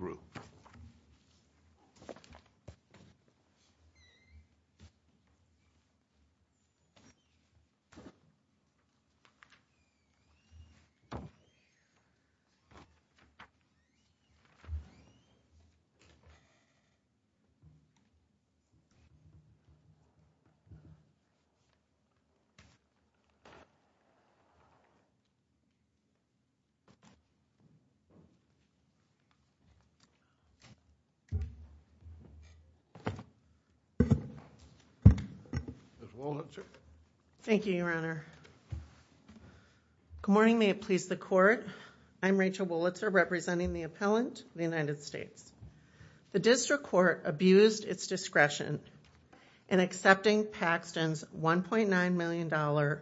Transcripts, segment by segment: Ms. Wolitzer Thank you, Your Honor. Good morning, may it please the Court. I'm Rachel Wolitzer, representing the Appellant of the United States. The District Court abused its discretion in accepting Paxton's $1.9 million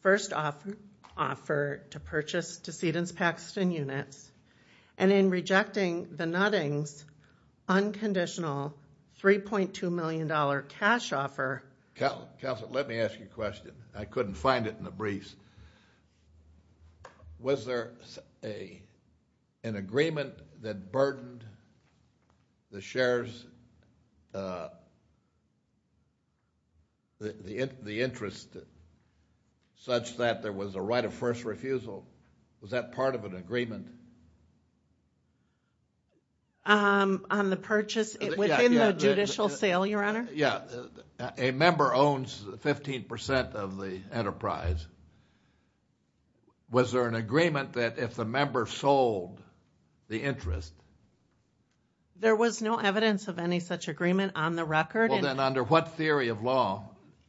first offer to purchase Decedents Paxton Units and in rejecting the Nuttings unconditional $3.2 million cash offer. Counselor, let me ask you a question. I couldn't find it in the briefs. Was there an agreement that burdened the shares, the interest such that there was a right of first refusal? Was that part of an agreement? On the purchase? Within the judicial sale, Your Honor? Yeah, a member owns 15% of the enterprise. Was there an agreement that if the member sold the interest? There was no evidence of any such agreement on the record. Well, then under what theory of law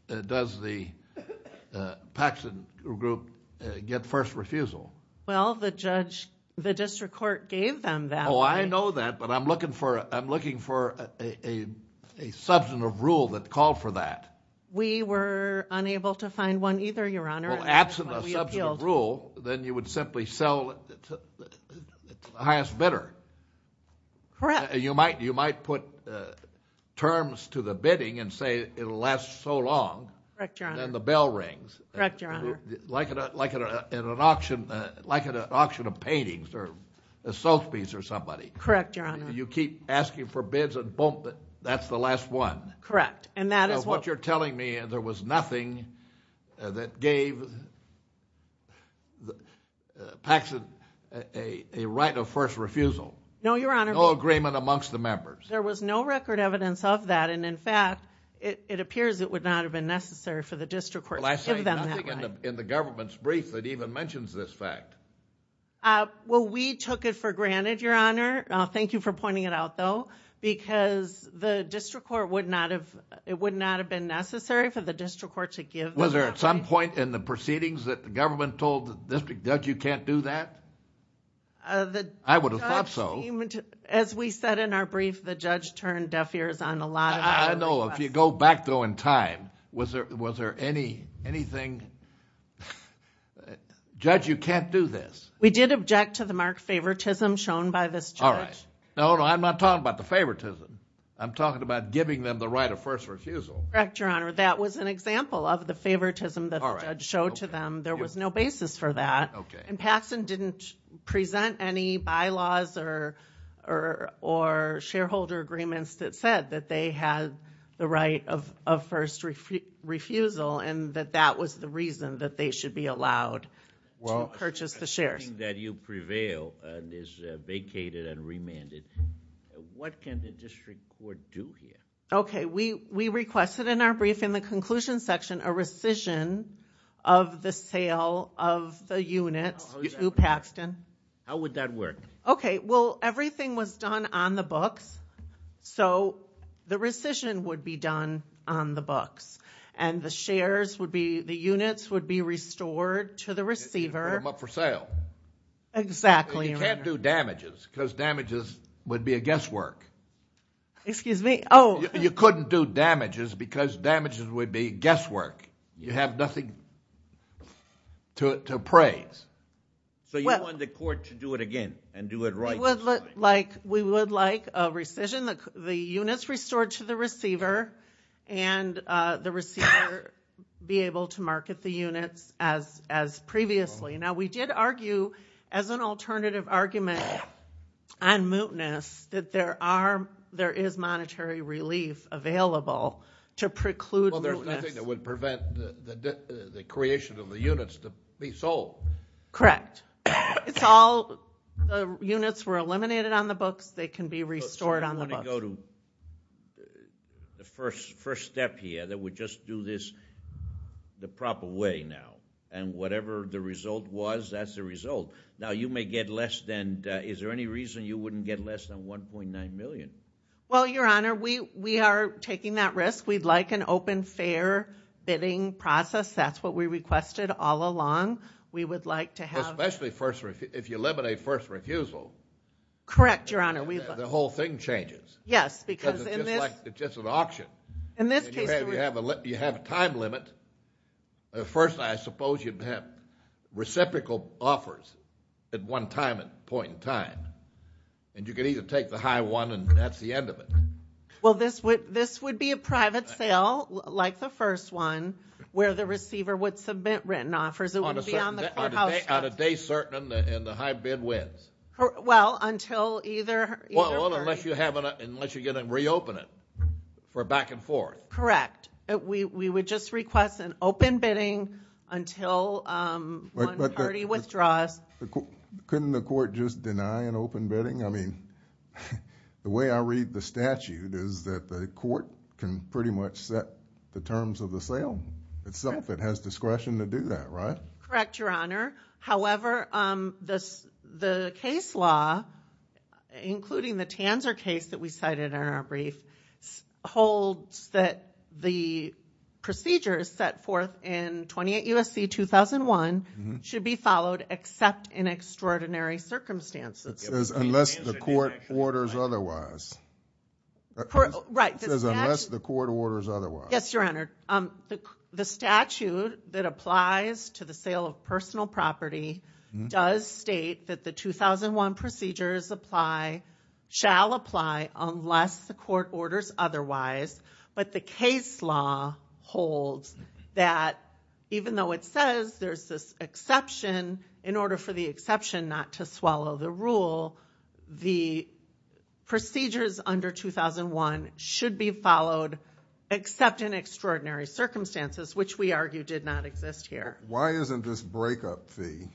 does the Paxton Group get first refusal? Well, the District Court gave them that. Oh, I know that, but I'm looking for a substantive rule that called for that. We were unable to find one either, Your Honor. Well, absent a substantive rule, then you would simply sell it to the highest bidder. Correct. You might put terms to the bidding and say it'll last so long. Correct, Your Honor. Then the bell rings. Correct, Your Honor. Like at an auction of paintings or a soap piece or somebody. Correct, Your Honor. You keep asking for bids and boom, that's the last one. Correct. What you're telling me is there was nothing that gave Paxton a right of first refusal? No, Your Honor. No agreement amongst the members? There was no record evidence of that, and in fact, it appears it would not have been necessary for the District Court to give them that right. I see nothing in the government's brief that even mentions this fact. Well, we took it for granted, Your Honor. Thank you for pointing it out, though, because it would not have been necessary for the District Court to give them that right. Was there at some point in the proceedings that the government told the district judge you can't do that? I would have thought so. As we said in our brief, the judge turned deaf ears on a lot of our requests. I know. If you go back, though, in time, was there anything? Judge, you can't do this. We did object to the marked favoritism shown by this judge. All right. No, no, I'm not talking about the favoritism. I'm talking about giving them the right of first refusal. Correct, Your Honor. That was an example of the favoritism that the judge showed to them. There was no basis for that. Okay. And Paxton didn't present any bylaws or shareholder agreements that said that they had the right of first refusal and that that was the reason that they should be allowed to purchase the shares. Well, assuming that you prevail and is vacated and remanded, what can the District Court do here? Okay. We requested in our brief in the conclusion section a rescission of the sale of the units to Paxton. How would that work? Okay. Well, everything was done on the books, so the rescission would be done on the books, and the shares would be the units would be restored to the receiver. And put them up for sale. Exactly, Your Honor. You can't do damages because damages would be a guesswork. Excuse me? Oh. You couldn't do damages because damages would be guesswork. You have nothing to appraise. So you want the court to do it again and do it right this time? We would like a rescission. The units restored to the receiver, and the receiver be able to market the units as previously. Now, we did argue as an alternative argument on mootness that there is monetary relief available to preclude mootness. Well, there's nothing that would prevent the creation of the units to be sold. Correct. It's all the units were eliminated on the books, they can be restored on the books. I want to go to the first step here, that we just do this the proper way now. And whatever the result was, that's the result. Now, you may get less than – is there any reason you wouldn't get less than $1.9 million? Well, Your Honor, we are taking that risk. We'd like an open, fair bidding process. That's what we requested all along. We would like to have – Especially if you eliminate first refusal. Correct, Your Honor. The whole thing changes. Yes, because in this – It's just an auction. In this case – You have a time limit. First, I suppose you'd have reciprocal offers at one point in time. And you could either take the high one, and that's the end of it. Well, this would be a private sale, like the first one, where the receiver would submit written offers. It would be on the courthouse – On a day certain, and the high bid wins. Well, until either party – Well, unless you're going to reopen it for back and forth. Correct. We would just request an open bidding until one party withdraws. Couldn't the court just deny an open bidding? I mean, the way I read the statute is that the court can pretty much set the terms of the sale itself. It has discretion to do that, right? Correct, Your Honor. However, the case law, including the Tanzer case that we cited in our brief, holds that the procedures set forth in 28 U.S.C. 2001 should be followed except in extraordinary circumstances. It says unless the court orders otherwise. Right. It says unless the court orders otherwise. Yes, Your Honor. The statute that applies to the sale of personal property does state that the 2001 procedures apply – shall apply unless the court orders otherwise, but the case law holds that even though it says there's this exception, in order for the exception not to swallow the rule, the procedures under 2001 should be followed except in extraordinary circumstances, which we argue did not exist here. Why isn't this breakup fee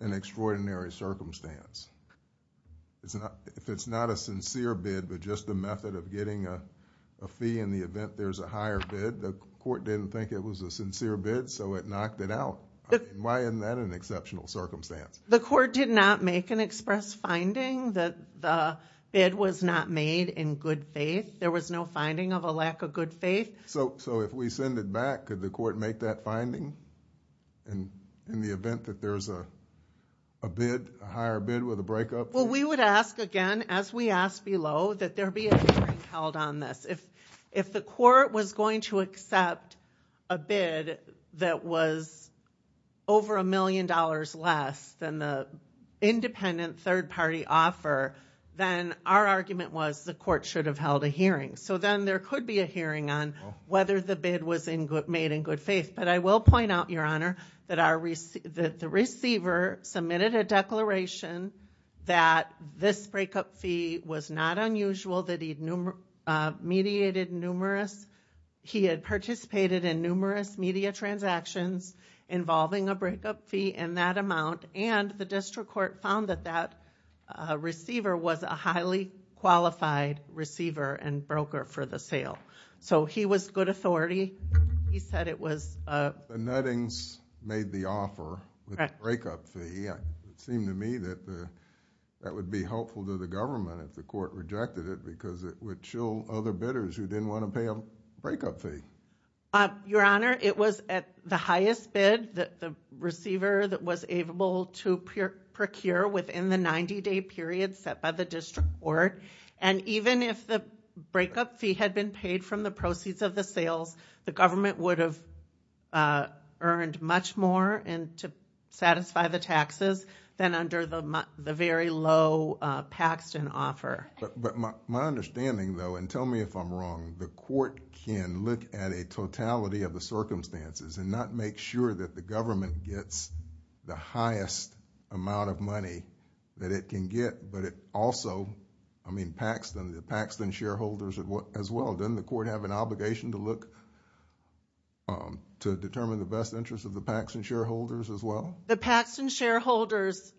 an extraordinary circumstance? If it's not a sincere bid, but just a method of getting a fee in the event there's a higher bid, the court didn't think it was a sincere bid, so it knocked it out. Why isn't that an exceptional circumstance? The court did not make an express finding that the bid was not made in good faith. There was no finding of a lack of good faith. So if we send it back, could the court make that finding in the event that there's a bid, a higher bid with a breakup fee? Well, we would ask again, as we ask below, that there be a hearing held on this. If the court was going to accept a bid that was over a million dollars less than the independent third-party offer, then our argument was the court should have held a hearing. So then there could be a hearing on whether the bid was made in good faith. But I will point out, Your Honor, that the receiver submitted a declaration that this breakup fee was not unusual, that he had participated in numerous media transactions involving a breakup fee in that amount, and the district court found that that receiver was a highly qualified receiver and broker for the sale. So he was good authority. He said it was... The Nuttings made the offer with the breakup fee. It seemed to me that that would be helpful to the government if the court rejected it because it would show other bidders who didn't want to pay a breakup fee. Your Honor, it was at the highest bid that the receiver was able to procure within the 90-day period set by the district court. And even if the breakup fee had been paid from the proceeds of the sales, the government would have earned much more to satisfy the taxes than under the very low Paxton offer. But my understanding, though, and tell me if I'm wrong, the court can look at a totality of the circumstances and not make sure that the government gets the highest amount of money that it can get, but it also... I mean, Paxton, the Paxton shareholders as well. Doesn't the court have an obligation to look to determine the best interest of the Paxton shareholders as well? The Paxton shareholders'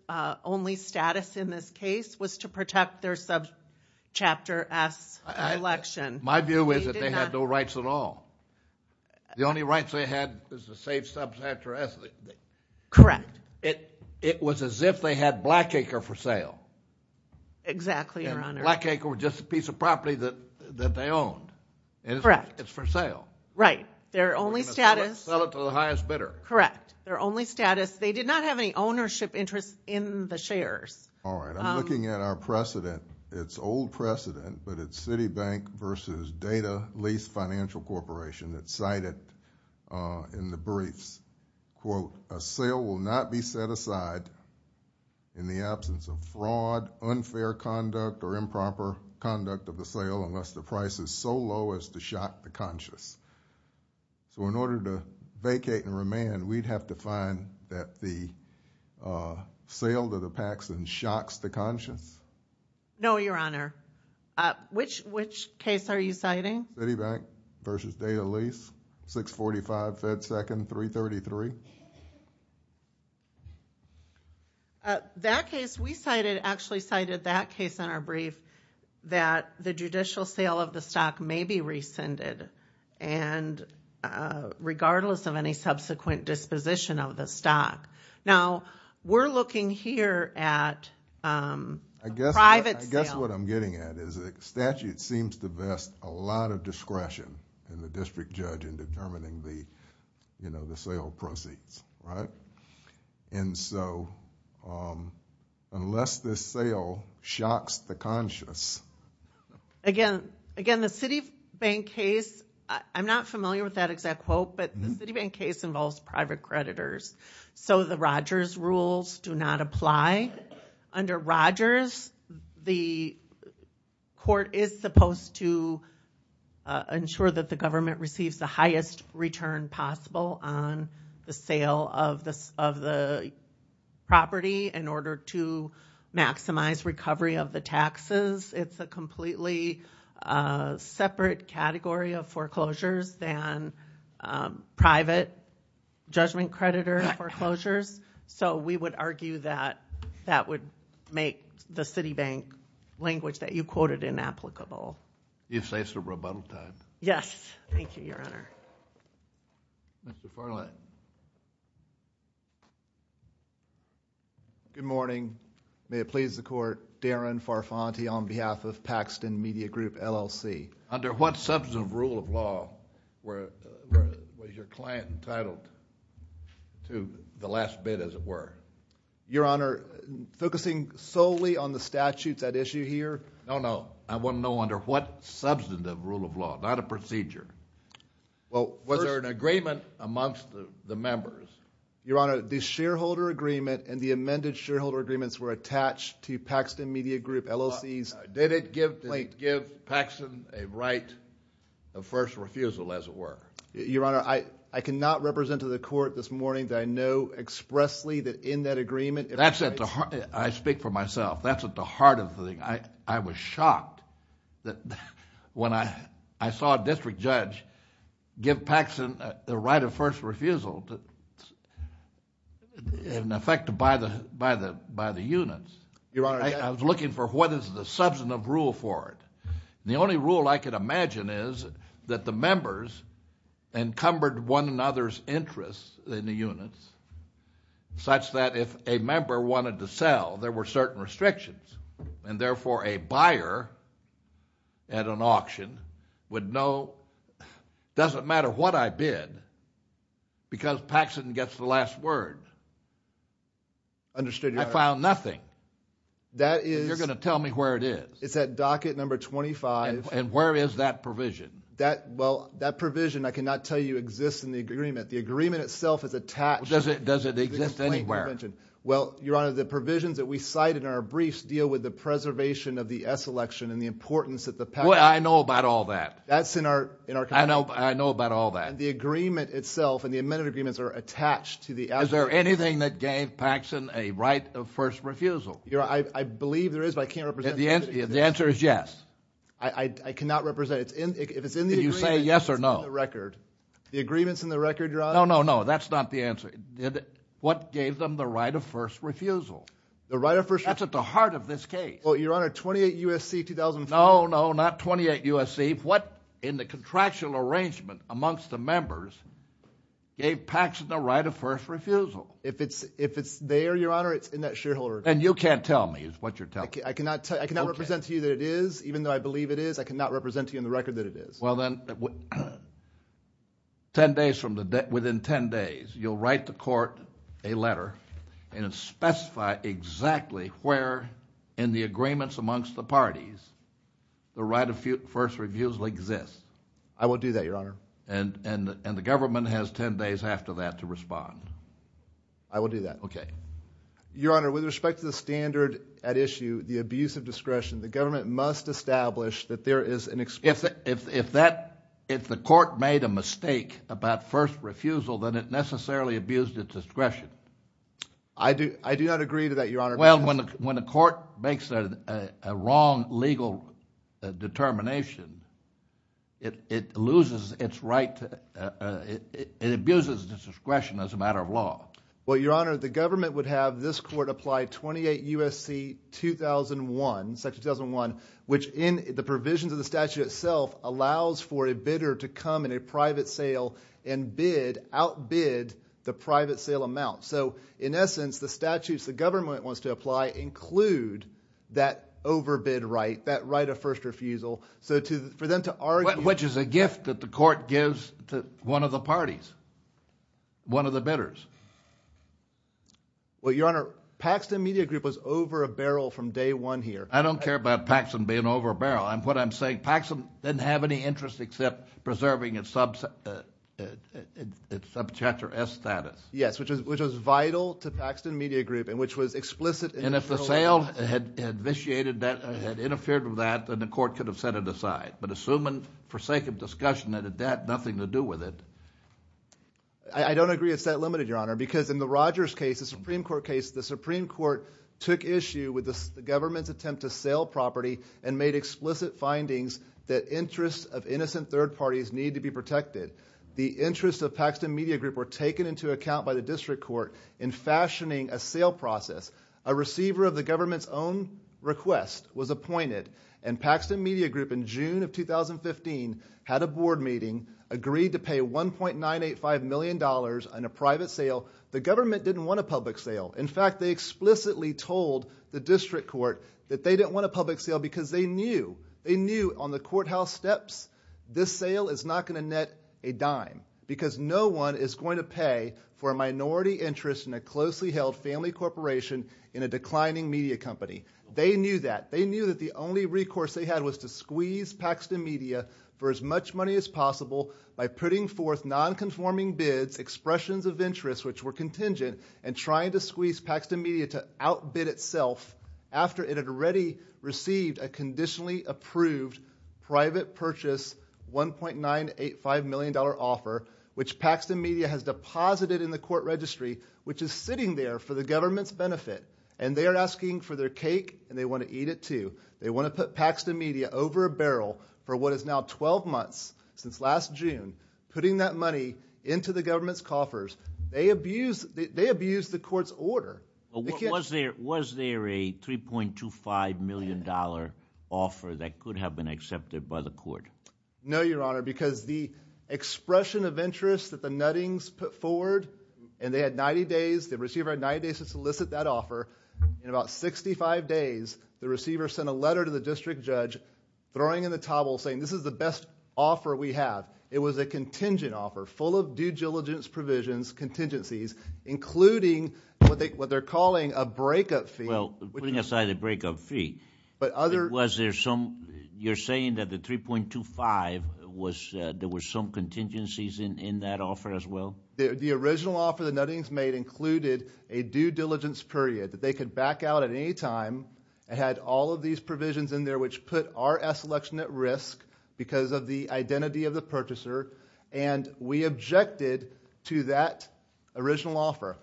only status in this case was to protect their Subchapter S election. My view is that they had no rights at all. The only rights they had was to save Subchapter S. Correct. It was as if they had Blackacre for sale. Exactly, Your Honor. Blackacre was just a piece of property that they owned. Correct. It's for sale. Right. Their only status... Sell it to the highest bidder. Correct. Their only status... they did not have any ownership interest in the shares. All right. I'm looking at our precedent. It's old precedent, but it's Citibank versus Data Lease Financial Corporation that cited in the briefs, quote, a sale will not be set aside in the absence of fraud, unfair conduct, or improper conduct of the sale unless the price is so low as to shock the conscious. So in order to vacate and remand, we'd have to find that the sale to the Paxton shocks the conscious? No, Your Honor. Which case are you citing? Citibank versus Data Lease, 645 Fed 2nd, 333. That case we cited actually cited that case in our brief that the judicial sale of the stock may be rescinded and regardless of any subsequent disposition of the stock. Now, we're looking here at private sale. That's what I'm getting at is the statute seems to vest a lot of discretion in the district judge in determining the sale proceeds, right? And so, unless the sale shocks the conscious... Again, the Citibank case... I'm not familiar with that exact quote, but the Citibank case involves private creditors. So the Rogers rules do not apply. Under Rogers, the court is supposed to ensure that the government receives the highest return possible on the sale of the property in order to maximize recovery of the taxes. It's a completely separate category of foreclosures than private judgment creditor foreclosures. So we would argue that that would make the Citibank language that you quoted inapplicable. You say it's a rebuttal time? Yes. Thank you, Your Honor. Mr. Farley. Good morning. May it please the court, Darren Farfanti on behalf of Paxton Media Group, LLC. Under what substantive rule of law was your client entitled to the last bid, as it were? Your Honor, focusing solely on the statutes at issue here... No, no. I want to know under what substantive rule of law, not a procedure. Was there an agreement amongst the members? Your Honor, the shareholder agreement and the amended shareholder agreements were attached to Paxton Media Group, LLC's... Did it give Paxton a right of first refusal, as it were? Your Honor, I cannot represent to the court this morning that I know expressly that in that agreement... That's at the heart... I speak for myself. That's at the heart of the thing. I was shocked when I saw a district judge give Paxton the right of first refusal in effect by the units. Your Honor... I was looking for what is the substantive rule for it. The only rule I could imagine is that the members encumbered one another's interests in the units, such that if a member wanted to sell, there were certain restrictions. And, therefore, a buyer at an auction would know, doesn't matter what I bid, because Paxton gets the last word. Understood, Your Honor. You found nothing. That is... You're going to tell me where it is. It's at docket number 25. And where is that provision? Well, that provision, I cannot tell you, exists in the agreement. The agreement itself is attached... Does it exist anywhere? Well, Your Honor, the provisions that we cite in our briefs deal with the preservation of the S election and the importance that the... Well, I know about all that. That's in our... I know about all that. The agreement itself and the amended agreements are attached to the... Is there anything that gave Paxton a right of first refusal? Your Honor, I believe there is, but I can't represent... The answer is yes. I cannot represent it. If it's in the agreement... Did you say yes or no? It's in the record. The agreement's in the record, Your Honor. No, no, no. That's not the answer. What gave them the right of first refusal? The right of first... That's at the heart of this case. Well, Your Honor, 28 U.S.C. 2004... No, no, not 28 U.S.C. I believe what in the contractual arrangement amongst the members gave Paxton the right of first refusal. If it's there, Your Honor, it's in that shareholder... And you can't tell me is what you're telling me. I cannot represent to you that it is, even though I believe it is. I cannot represent to you in the record that it is. Well, then, within 10 days, you'll write the court a letter and specify exactly where in the agreements amongst the parties the right of first refusal exists. I will do that, Your Honor. And the government has 10 days after that to respond. I will do that. Okay. Your Honor, with respect to the standard at issue, the abuse of discretion, the government must establish that there is an... If the court made a mistake about first refusal, then it necessarily abused its discretion. I do not agree to that, Your Honor. Well, when the court makes a wrong legal determination, it loses its right to... It abuses its discretion as a matter of law. Well, Your Honor, the government would have this court apply 28 U.S.C. 2001, Section 2001, which in the provisions of the statute itself allows for a bidder to come in a private sale and bid, outbid the private sale amount. So in essence, the statutes the government wants to apply include that overbid right, that right of first refusal. So for them to argue... Which is a gift that the court gives to one of the parties, one of the bidders. Well, Your Honor, Paxton Media Group was over a barrel from day one here. I don't care about Paxton being over a barrel. What I'm saying, Paxton didn't have any interest except preserving its subject or S status. Yes, which was vital to Paxton Media Group and which was explicit... And if the sale had initiated that, had interfered with that, then the court could have set it aside. But assuming, for sake of discussion, that it had nothing to do with it... I don't agree it's that limited, Your Honor, because in the Rogers case, the Supreme Court case, the Supreme Court took issue with the government's attempt to sell property and made explicit findings that interests of innocent third parties need to be protected. The interests of Paxton Media Group were taken into account by the District Court in fashioning a sale process. A receiver of the government's own request was appointed. And Paxton Media Group, in June of 2015, had a board meeting, agreed to pay $1.985 million in a private sale. The government didn't want a public sale. In fact, they explicitly told the District Court that they didn't want a public sale because they knew... because no one is going to pay for a minority interest in a closely held family corporation in a declining media company. They knew that. They knew that the only recourse they had was to squeeze Paxton Media for as much money as possible... by putting forth non-conforming bids, expressions of interest, which were contingent... and trying to squeeze Paxton Media to outbid itself... which Paxton Media has deposited in the court registry, which is sitting there for the government's benefit. And, they are asking for their cake and they want to eat it too. They want to put Paxton Media over a barrel for what is now 12 months, since last June... putting that money into the government's coffers. They abused... they abused the court's order. Was there... was there a $3.25 million offer that could have been accepted by the court? No, Your Honor, because the expression of interest that the Nuttings put forward... and they had 90 days, the receiver had 90 days to solicit that offer. In about 65 days, the receiver sent a letter to the district judge, throwing in the towel, saying this is the best offer we have. It was a contingent offer, full of due diligence provisions, contingencies, including what they're calling a breakup fee. Well, putting aside the breakup fee, but other... The $3.25 was... there were some contingencies in that offer, as well? The original offer the Nuttings made included a due diligence period, that they could back out at any time. It had all of these provisions in there, which put our selection at risk, because of the identity of the purchaser. And, we objected to that original offer.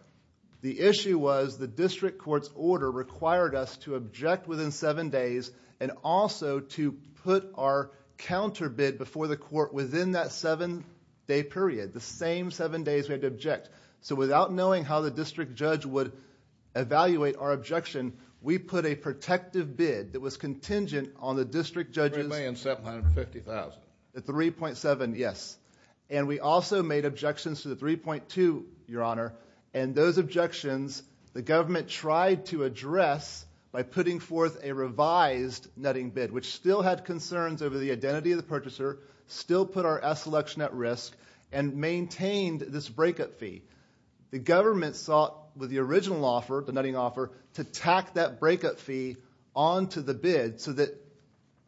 The issue was the district court's order required us to object within seven days, and also to put our counter bid before the court within that seven day period, the same seven days we had to object. So, without knowing how the district judge would evaluate our objection, we put a protective bid that was contingent on the district judge's... $3,750,000. The $3.7, yes. And, we also made objections to the $3.2, Your Honor. And, those objections, the government tried to address by putting forth a revised nutting bid, which still had concerns over the identity of the purchaser, still put our S selection at risk, and maintained this breakup fee. The government sought, with the original offer, the nutting offer, to tack that breakup fee onto the bid, so that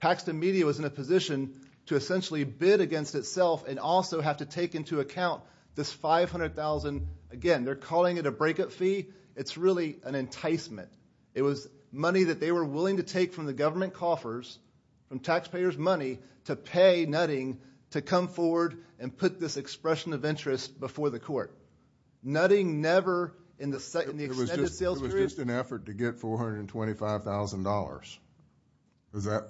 Paxton Media was in a position to essentially bid against itself, and also have to take into account this $500,000. Again, they're calling it a breakup fee. It's really an enticement. It was money that they were willing to take from the government coffers, from taxpayers' money, to pay Nutting to come forward and put this expression of interest before the court. Nutting never, in the extended sales period... Is that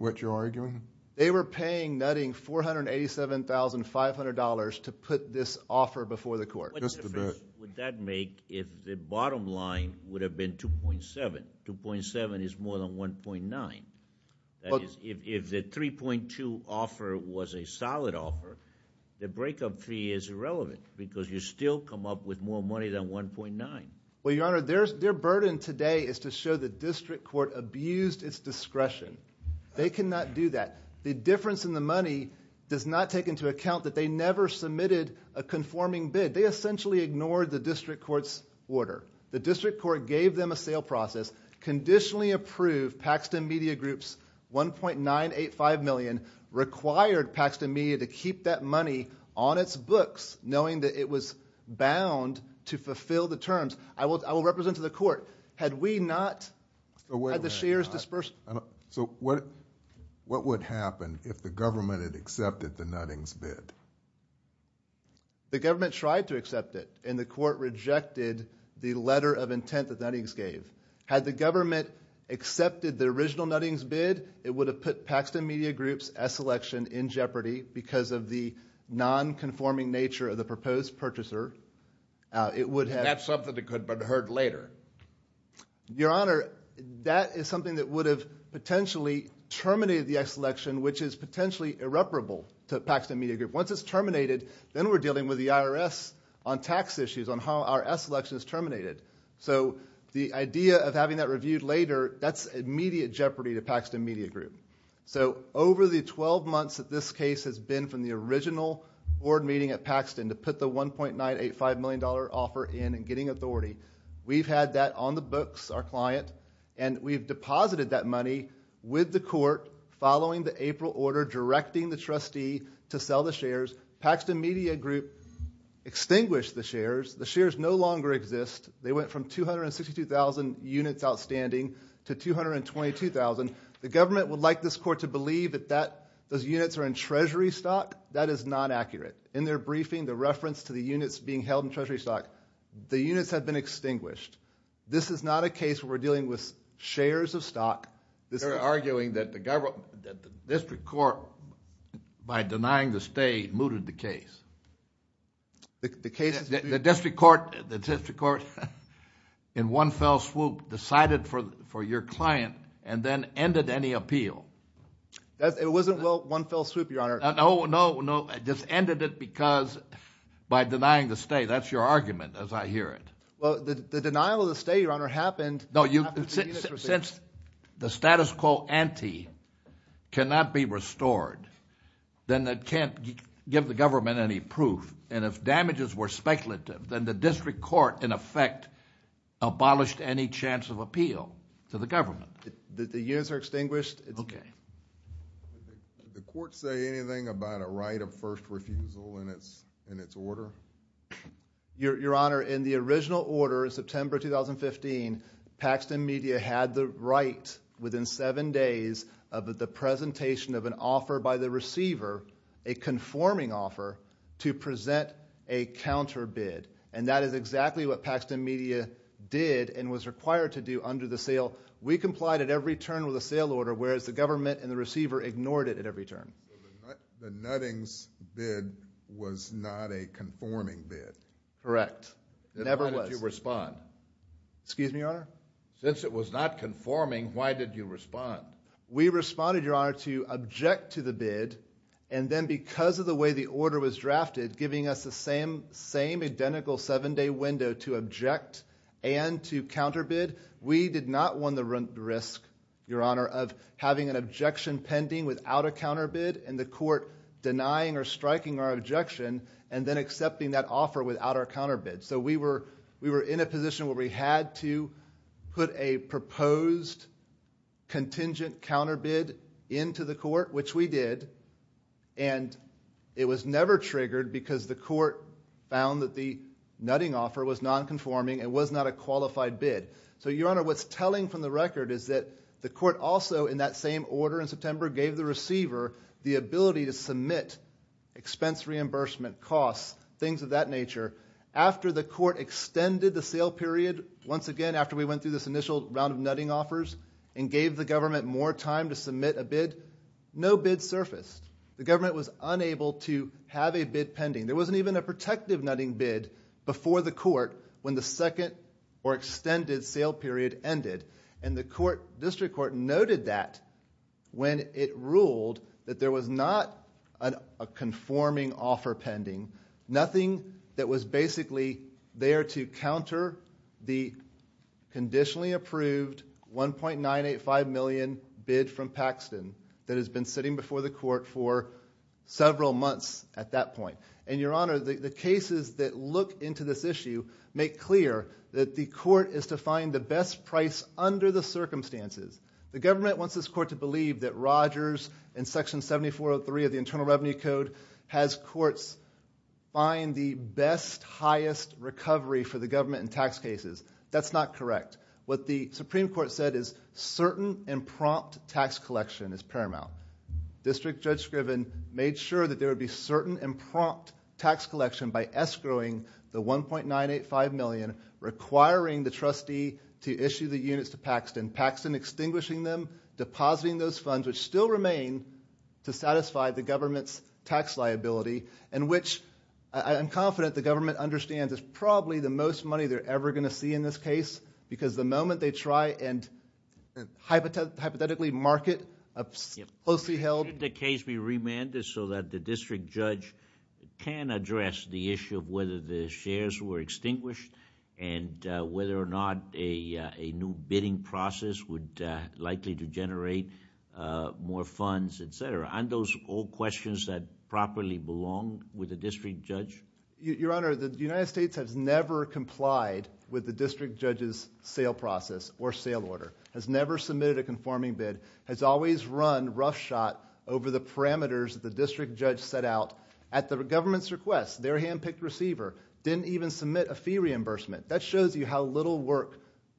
what you're arguing? They were paying Nutting $487,500 to put this offer before the court. What difference would that make if the bottom line would have been $2.7? $2.7 is more than $1.9. If the $3.2 offer was a solid offer, the breakup fee is irrelevant, because you still come up with more money than $1.9. Well, Your Honor, their burden today is to show the district court abused its discretion. They cannot do that. The difference in the money does not take into account that they never submitted a conforming bid. They essentially ignored the district court's order. The district court gave them a sale process, conditionally approved Paxton Media Group's $1.985 million, required Paxton Media to keep that money on its books, knowing that it was bound to fulfill the terms. I will represent to the court. Had we not... Wait a minute.... had the shares disbursed... So what would happen if the government had accepted the Nuttings bid? The government tried to accept it, and the court rejected the letter of intent that Nuttings gave. Had the government accepted the original Nuttings bid, it would have put Paxton Media Group's S election in jeopardy because of the nonconforming nature of the proposed purchaser. It would have... And that's something that could have been heard later. Your Honor, that is something that would have potentially terminated the S election, which is potentially irreparable to Paxton Media Group. Once it's terminated, then we're dealing with the IRS on tax issues, on how our S election is terminated. So the idea of having that reviewed later, that's immediate jeopardy to Paxton Media Group. So over the 12 months that this case has been from the original board meeting at Paxton to put the $1.985 million offer in and getting authority, we've had that on the books, our client, and we've deposited that money with the court following the April order directing the trustee to sell the shares. Paxton Media Group extinguished the shares. The shares no longer exist. They went from 262,000 units outstanding to 222,000. The government would like this court to believe that those units are in Treasury stock. That is not accurate. In their briefing, the reference to the units being held in Treasury stock, the units have been extinguished. This is not a case where we're dealing with shares of stock. They're arguing that the district court, by denying the stay, mooted the case. The district court in one fell swoop decided for your client and then ended any appeal. It wasn't one fell swoop, Your Honor. No, no, no. It just ended it because by denying the stay. That's your argument as I hear it. Well, the denial of the stay, Your Honor, happened. Since the status quo ante cannot be restored, then it can't give the government any proof. And if damages were speculative, then the district court, in effect, abolished any chance of appeal to the government. The units are extinguished? Okay. Did the court say anything about a right of first refusal in its order? Your Honor, in the original order in September 2015, Paxton Media had the right within seven days of the presentation of an offer by the receiver, a conforming offer, to present a counter bid. And that is exactly what Paxton Media did and was required to do under the sale. We complied at every turn with a sale order, whereas the government and the receiver ignored it at every turn. The Nuttings bid was not a conforming bid. Correct. It never was. Then why did you respond? Excuse me, Your Honor? Since it was not conforming, why did you respond? We responded, Your Honor, to object to the bid, and then because of the way the order was drafted, giving us the same identical seven-day window to object and to counter bid, we did not want the risk, Your Honor, of having an objection pending without a counter bid and the court denying or striking our objection and then accepting that offer without our counter bid. So we were in a position where we had to put a proposed contingent counter bid into the court, which we did, and it was never triggered because the court found that the nutting offer was nonconforming and was not a qualified bid. So, Your Honor, what's telling from the record is that the court also, in that same order in September, gave the receiver the ability to submit expense reimbursement costs, things of that nature. After the court extended the sale period, once again, after we went through this initial round of nutting offers and gave the government more time to submit a bid, no bid surfaced. The government was unable to have a bid pending. There wasn't even a protective nutting bid before the court when the second or extended sale period ended, and the district court noted that when it ruled that there was not a conforming offer pending, nothing that was basically there to counter the conditionally approved $1.985 million bid from Paxton that has been sitting before the court for several months at that point. And, Your Honor, the cases that look into this issue make clear that the court is to find the best price under the circumstances. The government wants this court to believe that Rogers in Section 7403 of the Internal Revenue Code has courts buying the best, highest recovery for the government in tax cases. That's not correct. What the Supreme Court said is certain and prompt tax collection is paramount. District Judge Scriven made sure that there would be certain and prompt tax collection by escrowing the $1.985 million, requiring the trustee to issue the units to Paxton, Paxton extinguishing them, depositing those funds, which still remain to satisfy the government's tax liability, and which I'm confident the government understands is probably the most money they're ever going to see in this case because the moment they try and hypothetically market a closely held... Did the case be remanded so that the District Judge can address the issue of whether the shares were extinguished and whether or not a new bidding process would likely to generate more funds, etc.? Aren't those all questions that properly belong with the District Judge? Your Honor, the United States has never complied with the District Judge's sale process or sale order, has never submitted a conforming bid, has always run rough shot over the parameters the District Judge set out. At the government's request, their handpicked receiver didn't even submit a fee reimbursement. That shows you how little work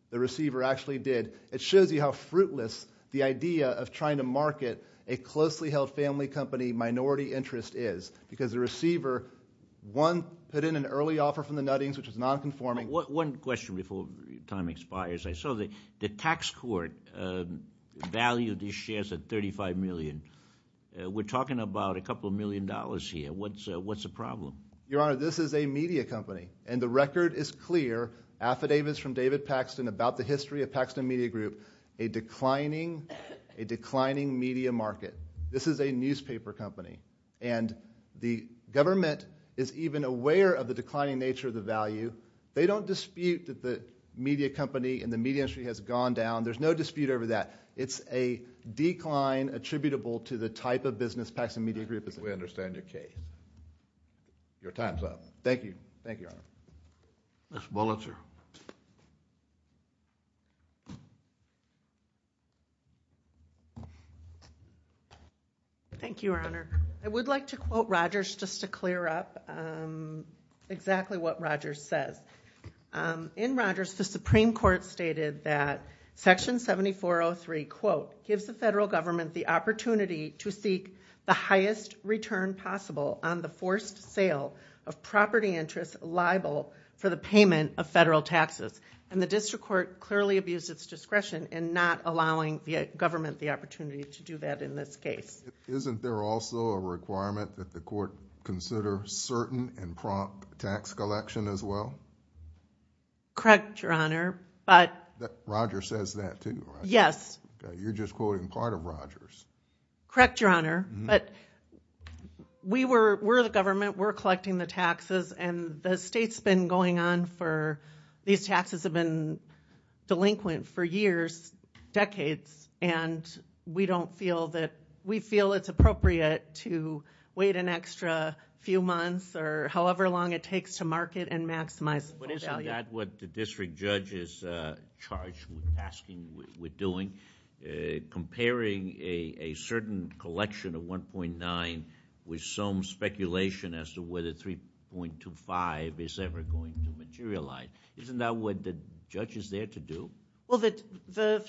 the receiver actually did. It shows you how fruitless the idea of trying to market a closely held family company minority interest is because the receiver, one, put in an early offer from the Nuttings, which was nonconforming. One question before time expires. I saw the tax court valued these shares at $35 million. We're talking about a couple million dollars here. What's the problem? Your Honor, this is a media company, and the record is clear. Affidavits from David Paxton about the history of Paxton Media Group, a declining media market. This is a newspaper company, and the government is even aware of the declining nature of the value. They don't dispute that the media company and the media industry has gone down. There's no dispute over that. It's a decline attributable to the type of business Paxton Media Group is in. We understand your case. Your time's up. Thank you. Thank you, Your Honor. Mr. Bullitzer. Thank you, Your Honor. I would like to quote Rogers just to clear up exactly what Rogers says. In Rogers, the Supreme Court stated that Section 7403, quote, gives the federal government the opportunity to seek the highest return possible on the forced sale of property interest liable for the payment of federal taxes. The district court clearly abused its discretion in not allowing the government the opportunity to do that in this case. Isn't there also a requirement that the court consider certain and prompt tax collection as well? Correct, Your Honor, but... Rogers says that too, right? Yes. You're just quoting part of Rogers. Correct, Your Honor, but we're the government. We're collecting the taxes, and the state's been going on for... These taxes have been delinquent for years, decades, and we don't feel that... we feel it's appropriate to wait an extra few months or however long it takes to market and maximize... But isn't that what the district judge is charged with asking, with doing? Comparing a certain collection of 1.9 with some speculation as to whether 3.25 is ever going to materialize. Isn't that what the judge is there to do? Well, the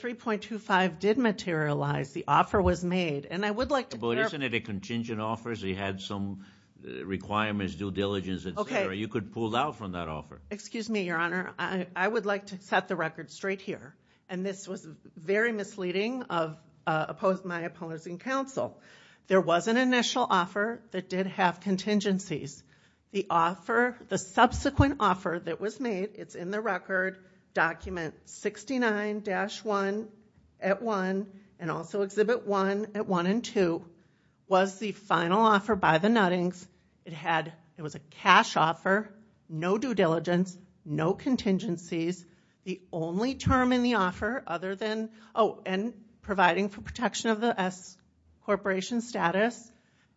3.25 did materialize. The offer was made, and I would like to... But isn't it a contingent offer? He had some requirements, due diligence, et cetera. You could pull out from that offer. Excuse me, Your Honor. I would like to set the record straight here, and this was very misleading of my opposing counsel. There was an initial offer that did have contingencies. The offer... the subsequent offer that was made... It's in the record. Document 69-1 at 1, and also Exhibit 1 at 1 and 2, was the final offer by the Nuttings. It was a cash offer, no due diligence, no contingencies. The only term in the offer other than... Oh, and providing for protection of the S Corporation status,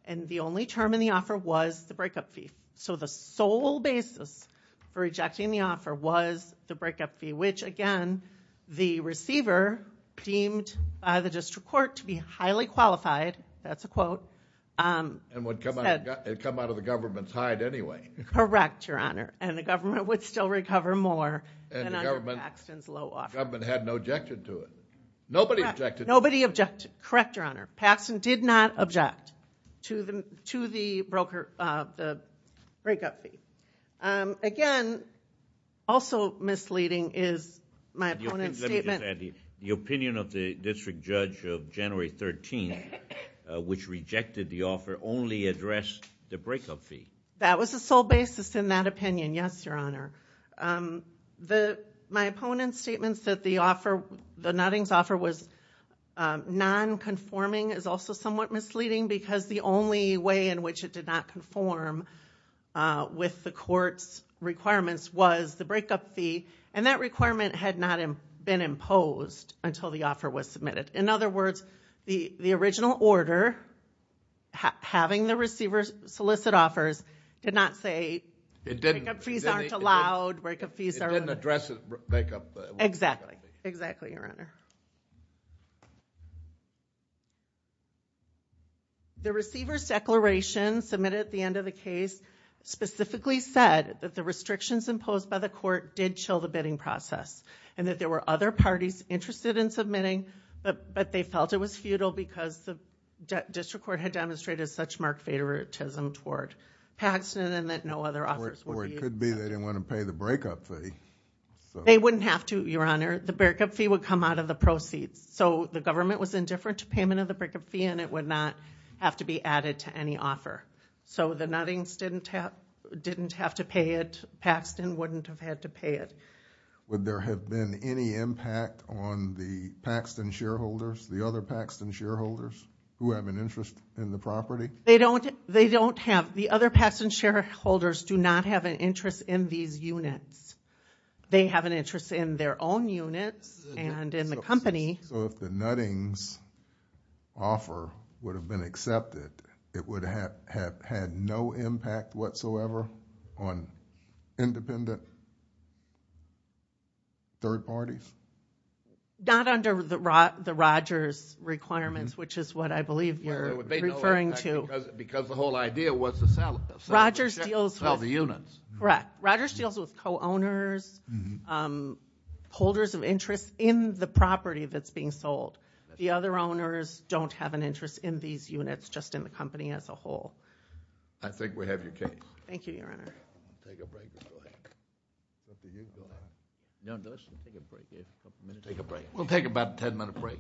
and the only term in the offer was the breakup fee. So the sole basis for rejecting the offer was the breakup fee, which, again, the receiver deemed by the district court to be highly qualified. That's a quote. It would come out of the government's hide anyway. Correct, Your Honor, and the government would still recover more than under Paxton's low offer. The government hadn't objected to it. Nobody objected. Nobody objected. Correct, Your Honor. Paxton did not object to the breakup fee. Again, also misleading is my opponent's statement...... only addressed the breakup fee. That was the sole basis in that opinion. Yes, Your Honor. My opponent's statement that the Nuttings offer was non-conforming is also somewhat misleading because the only way in which it did not conform with the court's requirements was the breakup fee, and that requirement had not been imposed until the offer was submitted. In other words, the original order, having the receiver solicit offers, did not say breakup fees aren't allowed, breakup fees are... It didn't address the breakup fee. Exactly. Exactly, Your Honor. The receiver's declaration submitted at the end of the case specifically said that the restrictions imposed by the court did chill the bidding process and that there were other parties interested in submitting, but they felt it was futile because the district court had demonstrated such marked favoritism toward Paxton and that no other offers would be... Or it could be they didn't want to pay the breakup fee. They wouldn't have to, Your Honor. The breakup fee would come out of the proceeds. The government was indifferent to payment of the breakup fee and it would not have to be added to any offer. The Nuttings didn't have to pay it. Paxton wouldn't have had to pay it. Would there have been any impact on the Paxton shareholders, the other Paxton shareholders who have an interest in the property? They don't have... the other Paxton shareholders do not have an interest in these units. They have an interest in their own units and in the company. So if the Nuttings offer would have been accepted, it would have had no impact whatsoever on independent third parties? Not under the Rogers requirements, which is what I believe you're referring to. Because the whole idea was to sell the units. Correct. Rogers deals with co-owners, holders of interest in the property that's being sold. The other owners don't have an interest in these units, just in the company as a whole. I think we have your case. Thank you, Your Honor. Take a break. Take a break. We'll take about a ten minute break.